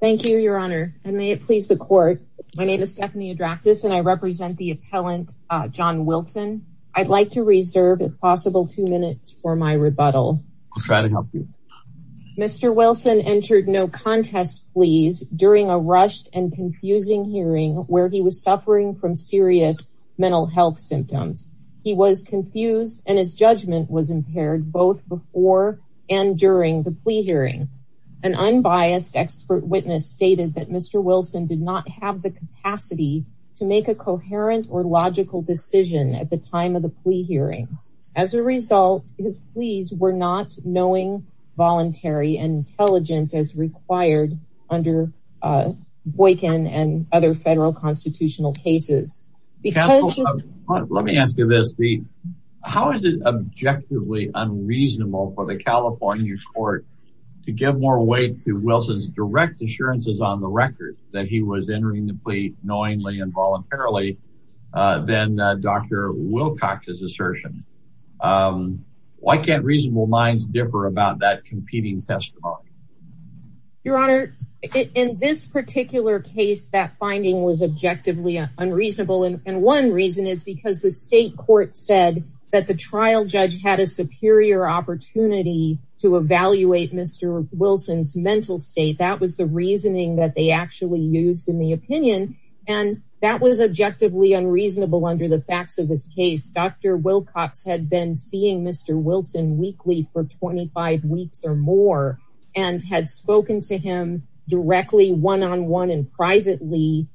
Thank you your honor and may it please the court. My name is Stephanie Adraktis and I represent the appellant John Wilson. I'd like to reserve if possible two minutes for my rebuttal. I'll try to help you. Mr. Wilson entered no contest pleas during a rushed and confusing hearing where he was suffering from serious mental health symptoms. He was confused and his judgment was impaired both before and during the plea hearing. An unbiased expert witness stated that Mr. Wilson did not have the capacity to make a coherent or logical decision at the time of the plea hearing. As a result his pleas were not knowing voluntary and intelligent as required under Boykin and other federal constitutional cases. Let me ask you this. How is it objectively unreasonable for the California court to give more weight to Wilson's direct assurances on the record that he was entering the plea knowingly and voluntarily than Dr. Wilcox's assertion? Why can't reasonable minds differ about that competing testimony? Your honor in this particular case that finding was objectively unreasonable and one reason is because the state court said that the trial judge had a superior opportunity to evaluate Mr. Wilson's mental state. That was the reasoning that they actually used in the opinion and that was objectively unreasonable under the facts of this case. Dr. Wilcox had been seeing Mr. Wilson weekly for 25 weeks or more and had spoken to him directly one-on-one and privately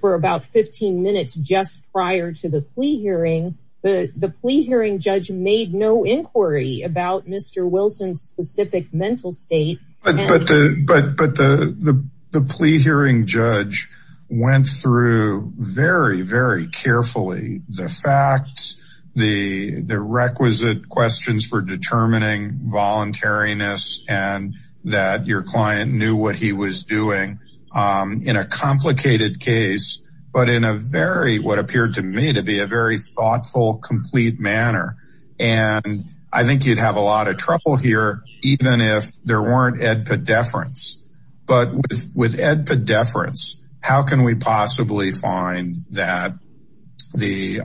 for about 15 minutes just prior to the plea hearing. The plea hearing judge made no inquiry about Mr. Wilson's specific mental state. But the plea hearing judge went through very very carefully the facts, the requisite questions for determining voluntariness and that your client knew what he was doing in a complicated case but in a very what appeared to me to be a very thoughtful complete manner. And I think you'd have a lot of trouble here even if there weren't edpedeference but with edpedeference how can we possibly find that the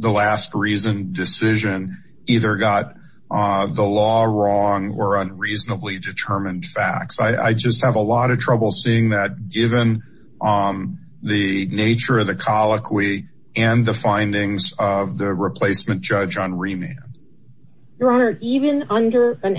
last reason decision either got the law wrong or unreasonably determined facts. I just have a lot of trouble seeing that given the nature of the colloquy and the findings of the replacement judge on remand. Your Honor, even under an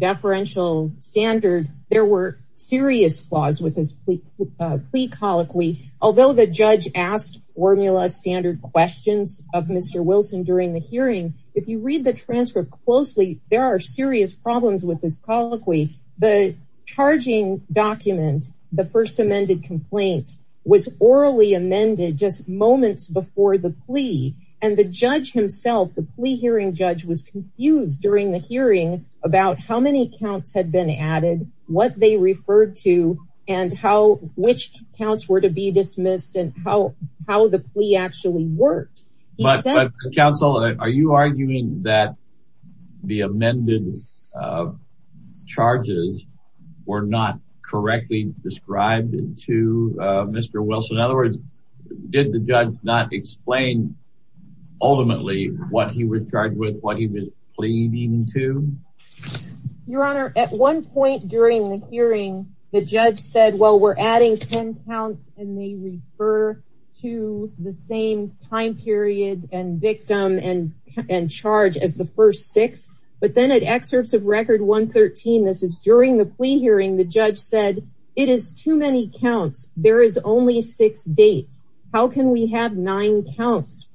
edpedeferential standard there were serious flaws with this plea colloquy. Although the judge asked formula standard questions of Mr. Wilson during the hearing, if you read the transcript closely there are serious problems with this colloquy. The charging document, the first amended complaint was orally amended just moments before the plea and the judge himself, the plea hearing judge was confused during the hearing about how many counts had been added, what they referred to and how which counts were to be dismissed and how the plea actually worked. Counsel, are you arguing that the amended charges were not correctly described to Mr. Wilson? In other words, did the judge not explain ultimately what he was charged with, what he was pleading to? Your Honor, at one point during the hearing the judge said well we're adding ten counts and they refer to the same time period and victim and charge as the first six. But then at excerpts of record 113, this is during the plea hearing, the judge said it is too many counts, there is only six dates. How can we have nine counts?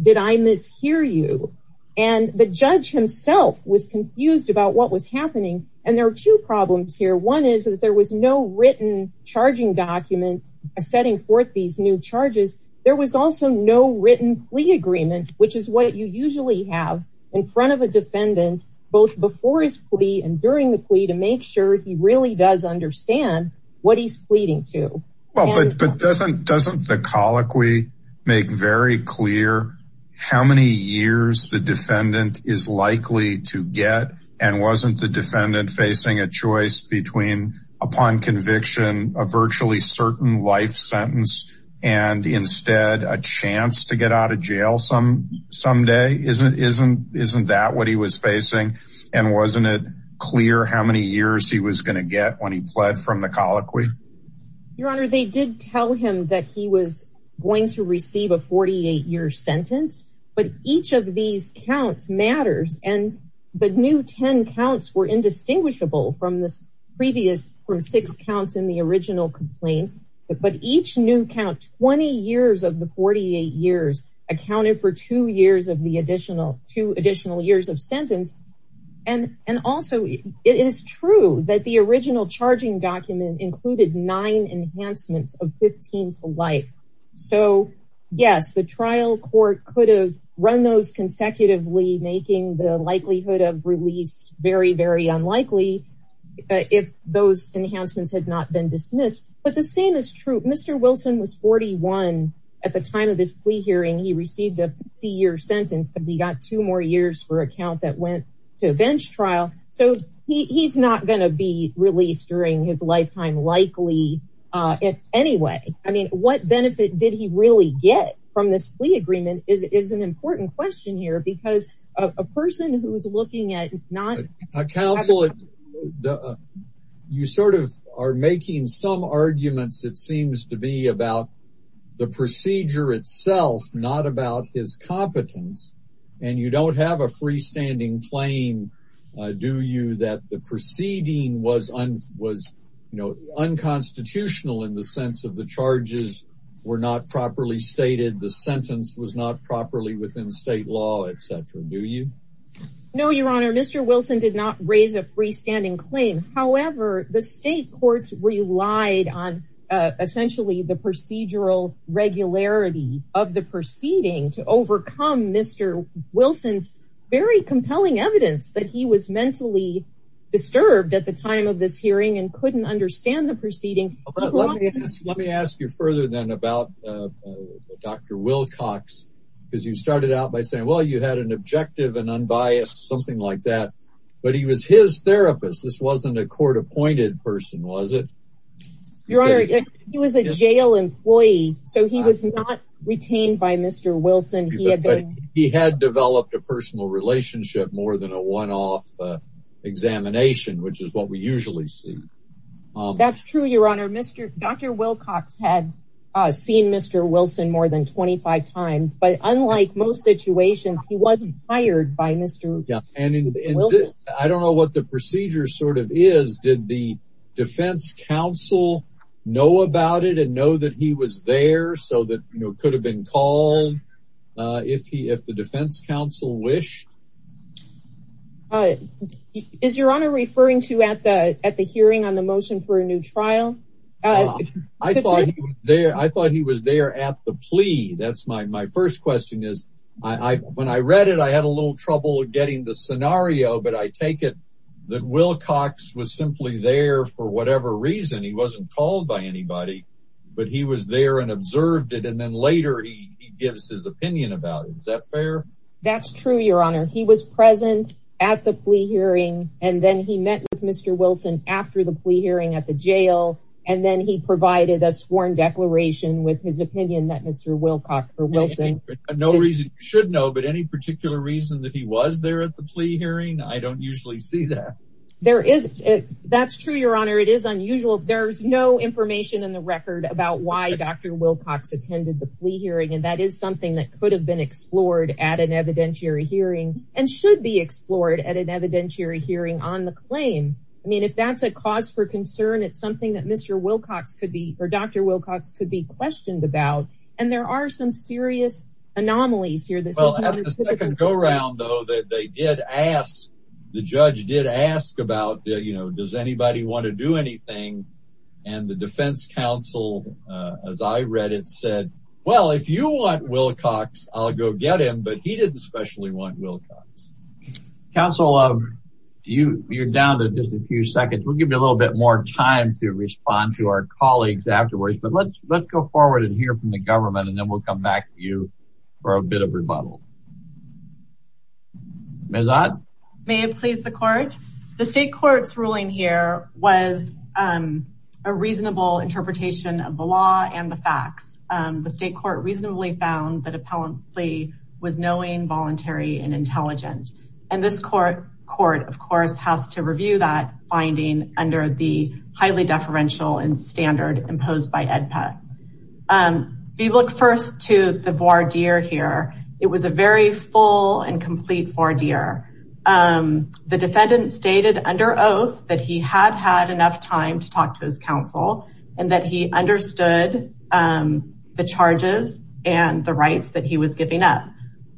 Did I mishear you? And the judge himself was confused about what was happening and there are two problems here. One is that there was no written charging document setting forth these new charges. There was also no written plea agreement which is what you usually have in front of a defendant both before his plea and during the plea to make sure he really does understand what he's pleading to. But doesn't the colloquy make very clear how many years the defendant is likely to get and wasn't the defendant facing a choice between upon conviction a virtually certain life sentence and instead a chance to get out of jail someday? Isn't that what he was facing and wasn't it clear how many years he was going to get when he pled from the colloquy? Your honor, they did tell him that he was going to receive a 48 year sentence, but each of these counts matters and the new 10 counts were indistinguishable from this previous from six counts in the original complaint. But each new count 20 years of the 48 years accounted for two additional years of sentence and also it is true that the original charging document included nine enhancements of 15 to life. So yes, the trial court could have run those consecutively making the likelihood of release very, very unlikely if those enhancements had not been dismissed, but the same is true. Mr. Wilson was 41 at the time of this plea hearing. He received a 50 year sentence and he got two more years for a count that went to a bench trial. So he's not going to be released during his lifetime likely anyway. I mean, what benefit did he really get from this plea agreement is an important question here because a person who is looking at not a counselor, you sort of are making some arguments. It seems to be about the procedure itself, not about his competence and you don't have a freestanding claim. Do you that the proceeding was was unconstitutional in the sense of the charges were not properly stated? The sentence was not properly within state law, etc. Do you know your honor? Mr. Wilson did not raise a freestanding claim. However, the state courts relied on essentially the procedural regularity of the proceeding to overcome Mr. Wilson's very compelling evidence that he was mentally disturbed at the time of this hearing and couldn't understand the proceeding. Let me ask you further than about Dr. Wilcox because you started out by saying, well, you had an objective and unbiased something like that. But he was his therapist. This wasn't a court appointed person, was it? Your honor, he was a jail employee, so he was not retained by Mr. Wilson. He had developed a personal relationship more than a one off examination, which is what we usually see. That's true, your honor. Mr. Dr. Wilcox had seen Mr. Wilson more than 25 times. But unlike most situations, he wasn't hired by Mr. Wilson. I don't know what the procedure sort of is. Did the defense counsel know about it and know that he was there so that could have been called if the defense counsel wished? Is your honor referring to at the hearing on the motion for a new trial? I thought he was there at the plea. That's my first question is when I read it, I had a little trouble getting the scenario, but I take it that Wilcox was simply there for whatever reason. He wasn't called by anybody, but he was there and observed it. And then later he gives his opinion about it. Is that fair? That's true, your honor. He was present at the plea hearing, and then he met with Mr. Wilson after the plea hearing at the jail. And then he provided a sworn declaration with his opinion that Mr. Wilcox or Wilson. No reason you should know, but any particular reason that he was there at the plea hearing. I don't usually see that there is. That's true, your honor. It is unusual. There's no information in the record about why Dr. Wilcox attended the plea hearing. And that is something that could have been explored at an evidentiary hearing and should be explored at an evidentiary hearing on the claim. I mean, if that's a cause for concern, it's something that Mr. Wilcox could be or Dr. Wilcox could be questioned about. And there are some serious anomalies here. The second go around, though, that they did ask. The judge did ask about, you know, does anybody want to do anything? And the defense counsel, as I read it, said, well, if you want Wilcox, I'll go get him. But he didn't especially want Wilcox. Counsel, you're down to just a few seconds. We'll give you a little bit more time to respond to our colleagues afterwards. But let's go forward and hear from the government and then we'll come back to you for a bit of rebuttal. May I please the court? The state court's ruling here was a reasonable interpretation of the law and the facts. The state court reasonably found that appellant's plea was knowing, voluntary and intelligent. And this court court, of course, has to review that finding under the highly deferential and standard imposed by EDPAT. We look first to the voir dire here. It was a very full and complete voir dire. The defendant stated under oath that he had had enough time to talk to his counsel and that he understood the charges and the rights that he was giving up.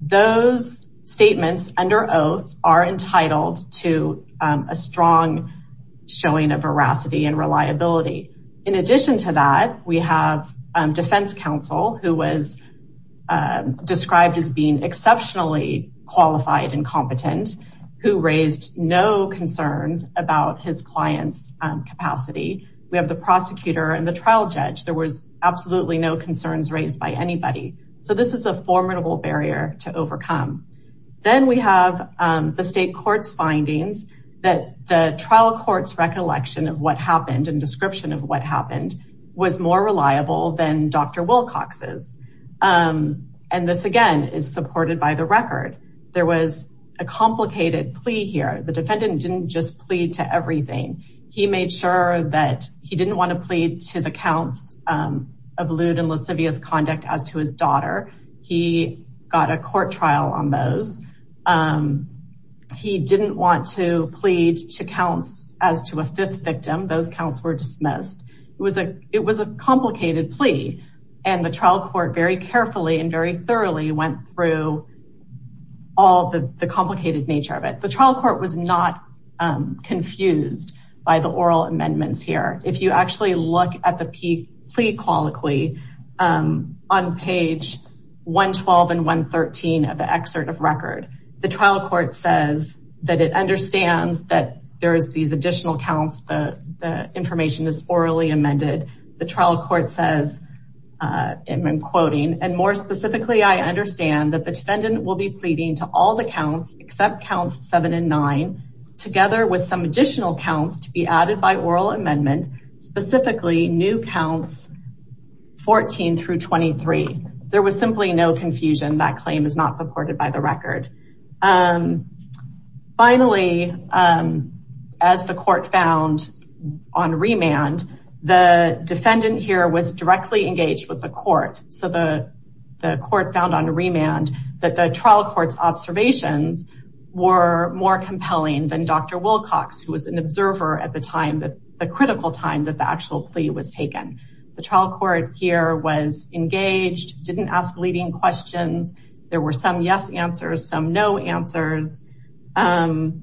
Those statements under oath are entitled to a strong showing of veracity and reliability. In addition to that, we have defense counsel who was described as being exceptionally qualified and competent, who raised no concerns about his client's capacity. We have the prosecutor and the trial judge. There was absolutely no concerns raised by anybody. So this is a formidable barrier to overcome. Then we have the state court's findings that the trial court's recollection of what happened and description of what happened was more reliable than Dr. Wilcox's. And this, again, is supported by the record. There was a complicated plea here. The defendant didn't just plead to everything. He made sure that he didn't want to plead to the counts of lewd and lascivious conduct as to his daughter. He got a court trial on those. He didn't want to plead to counts as to a fifth victim. Those counts were dismissed. It was a complicated plea, and the trial court very carefully and very thoroughly went through all the complicated nature of it. The trial court was not confused by the oral amendments here. If you actually look at the plea colloquy on page 112 and 113 of the excerpt of record, the trial court says that it understands that there is these additional counts. The information is orally amended. The trial court says, and I'm quoting, and more specifically, I understand that the defendant will be pleading to all the counts except counts seven and nine, together with some additional counts to be added by oral amendment, specifically new counts 14 through 23. There was simply no confusion. That claim is not supported by the record. Finally, as the court found on remand, the defendant here was directly engaged with the court. So the court found on remand that the trial court's observations were more compelling than Dr. Wilcox, who was an observer at the time, the critical time that the actual plea was taken. The trial court here was engaged, didn't ask leading questions. There were some yes answers, some no answers, and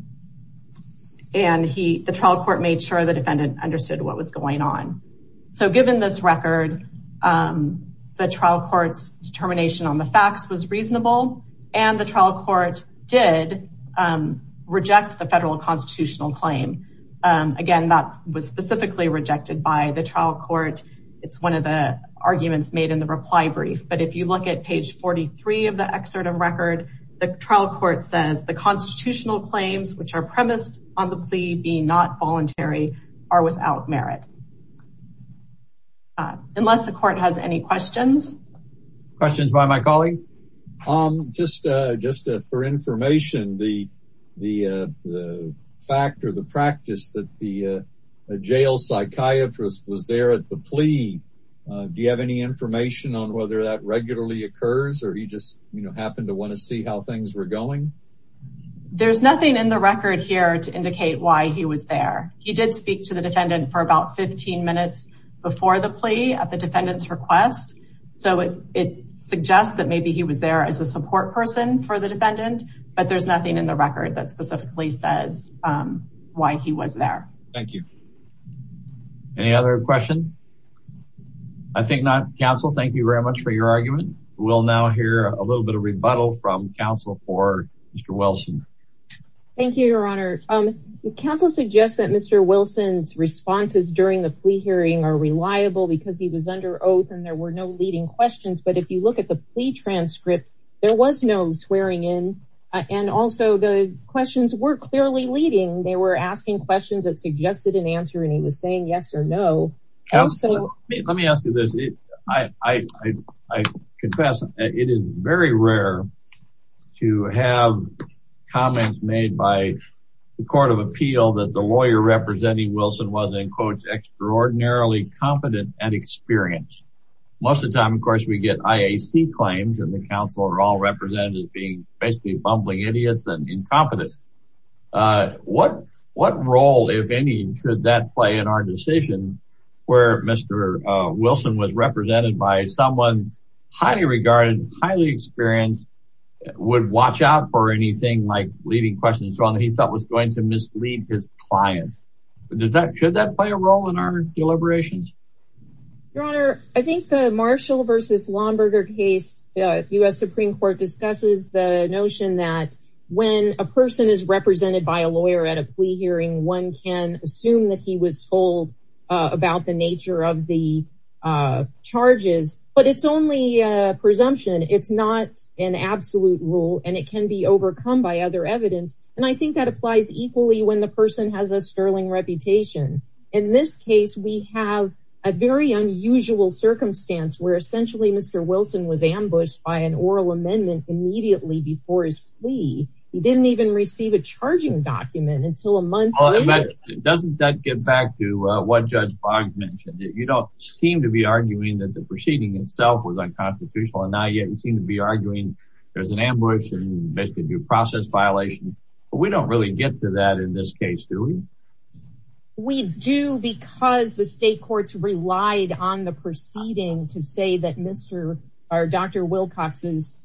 the trial court made sure the defendant understood what was going on. So given this record, the trial court's determination on the facts was reasonable, and the trial court did reject the federal constitutional claim. Again, that was specifically rejected by the trial court. It's one of the arguments made in the reply brief. But if you look at page 43 of the excerpt of record, the trial court says the constitutional claims, which are premised on the plea being not voluntary, are without merit. Unless the court has any questions. Questions by my colleagues? Just for information, the fact or the practice that the jail psychiatrist was there at the plea, do you have any information on whether that regularly occurs or he just happened to want to see how things were going? There's nothing in the record here to indicate why he was there. He did speak to the defendant for about 15 minutes before the plea at the defendant's request. So it suggests that maybe he was there as a support person for the defendant, but there's nothing in the record that specifically says why he was there. Thank you. Any other questions? I think not. Counsel, thank you very much for your argument. We'll now hear a little bit of rebuttal from counsel for Mr. Wilson. Thank you, Your Honor. Counsel suggests that Mr. Wilson's responses during the plea hearing are reliable because he was under oath and there were no leading questions. But if you look at the plea transcript, there was no swearing in. And also the questions were clearly leading. They were asking questions that suggested an answer and he was saying yes or no. Let me ask you this. I confess it is very rare to have comments made by the court of appeal that the lawyer representing Wilson was, in quotes, extraordinarily competent and experienced. Most of the time, of course, we get IAC claims and the counsel are all represented as being basically bumbling idiots and incompetent. What role, if any, should that play in our decision where Mr. Wilson was represented by someone highly regarded, highly experienced, would watch out for anything like leading questions on what he thought was going to mislead his client? Should that play a role in our deliberations? Your Honor, I think the Marshall v. Lomberger case, the U.S. Supreme Court discusses the notion that when a person is represented by a lawyer at a plea hearing, one can assume that he was told about the nature of the charges. But it's only a presumption. It's not an absolute rule and it can be overcome by other evidence. And I think that applies equally when the person has a sterling reputation. In this case, we have a very unusual circumstance where essentially Mr. Wilson was ambushed by an oral amendment immediately before his plea. He didn't even receive a charging document until a month later. Doesn't that get back to what Judge Boggs mentioned? You don't seem to be arguing that the proceeding itself was unconstitutional and not yet. You seem to be arguing there's an ambush and basically due process violation. But we don't really get to that in this case, do we? We do because the state courts relied on the proceeding to say that Dr. Wilcox's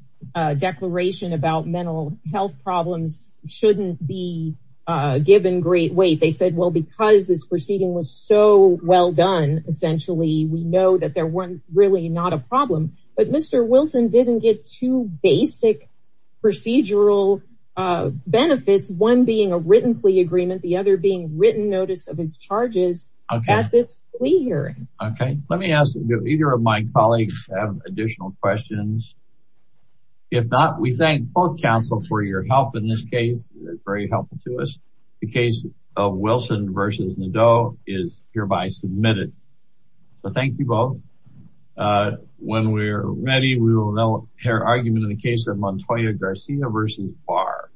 declaration about mental health problems shouldn't be given great weight. They said, well, because this proceeding was so well done, essentially, we know that there was really not a problem. But Mr. Wilson didn't get two basic procedural benefits, one being a written plea agreement, the other being written notice of his charges at this plea hearing. Okay, let me ask if either of my colleagues have additional questions. If not, we thank both counsel for your help in this case. It's very helpful to us. The case of Wilson versus Nadeau is hereby submitted. So thank you both. When we're ready, we will now hear argument in the case of Montoya Garcia versus Barr.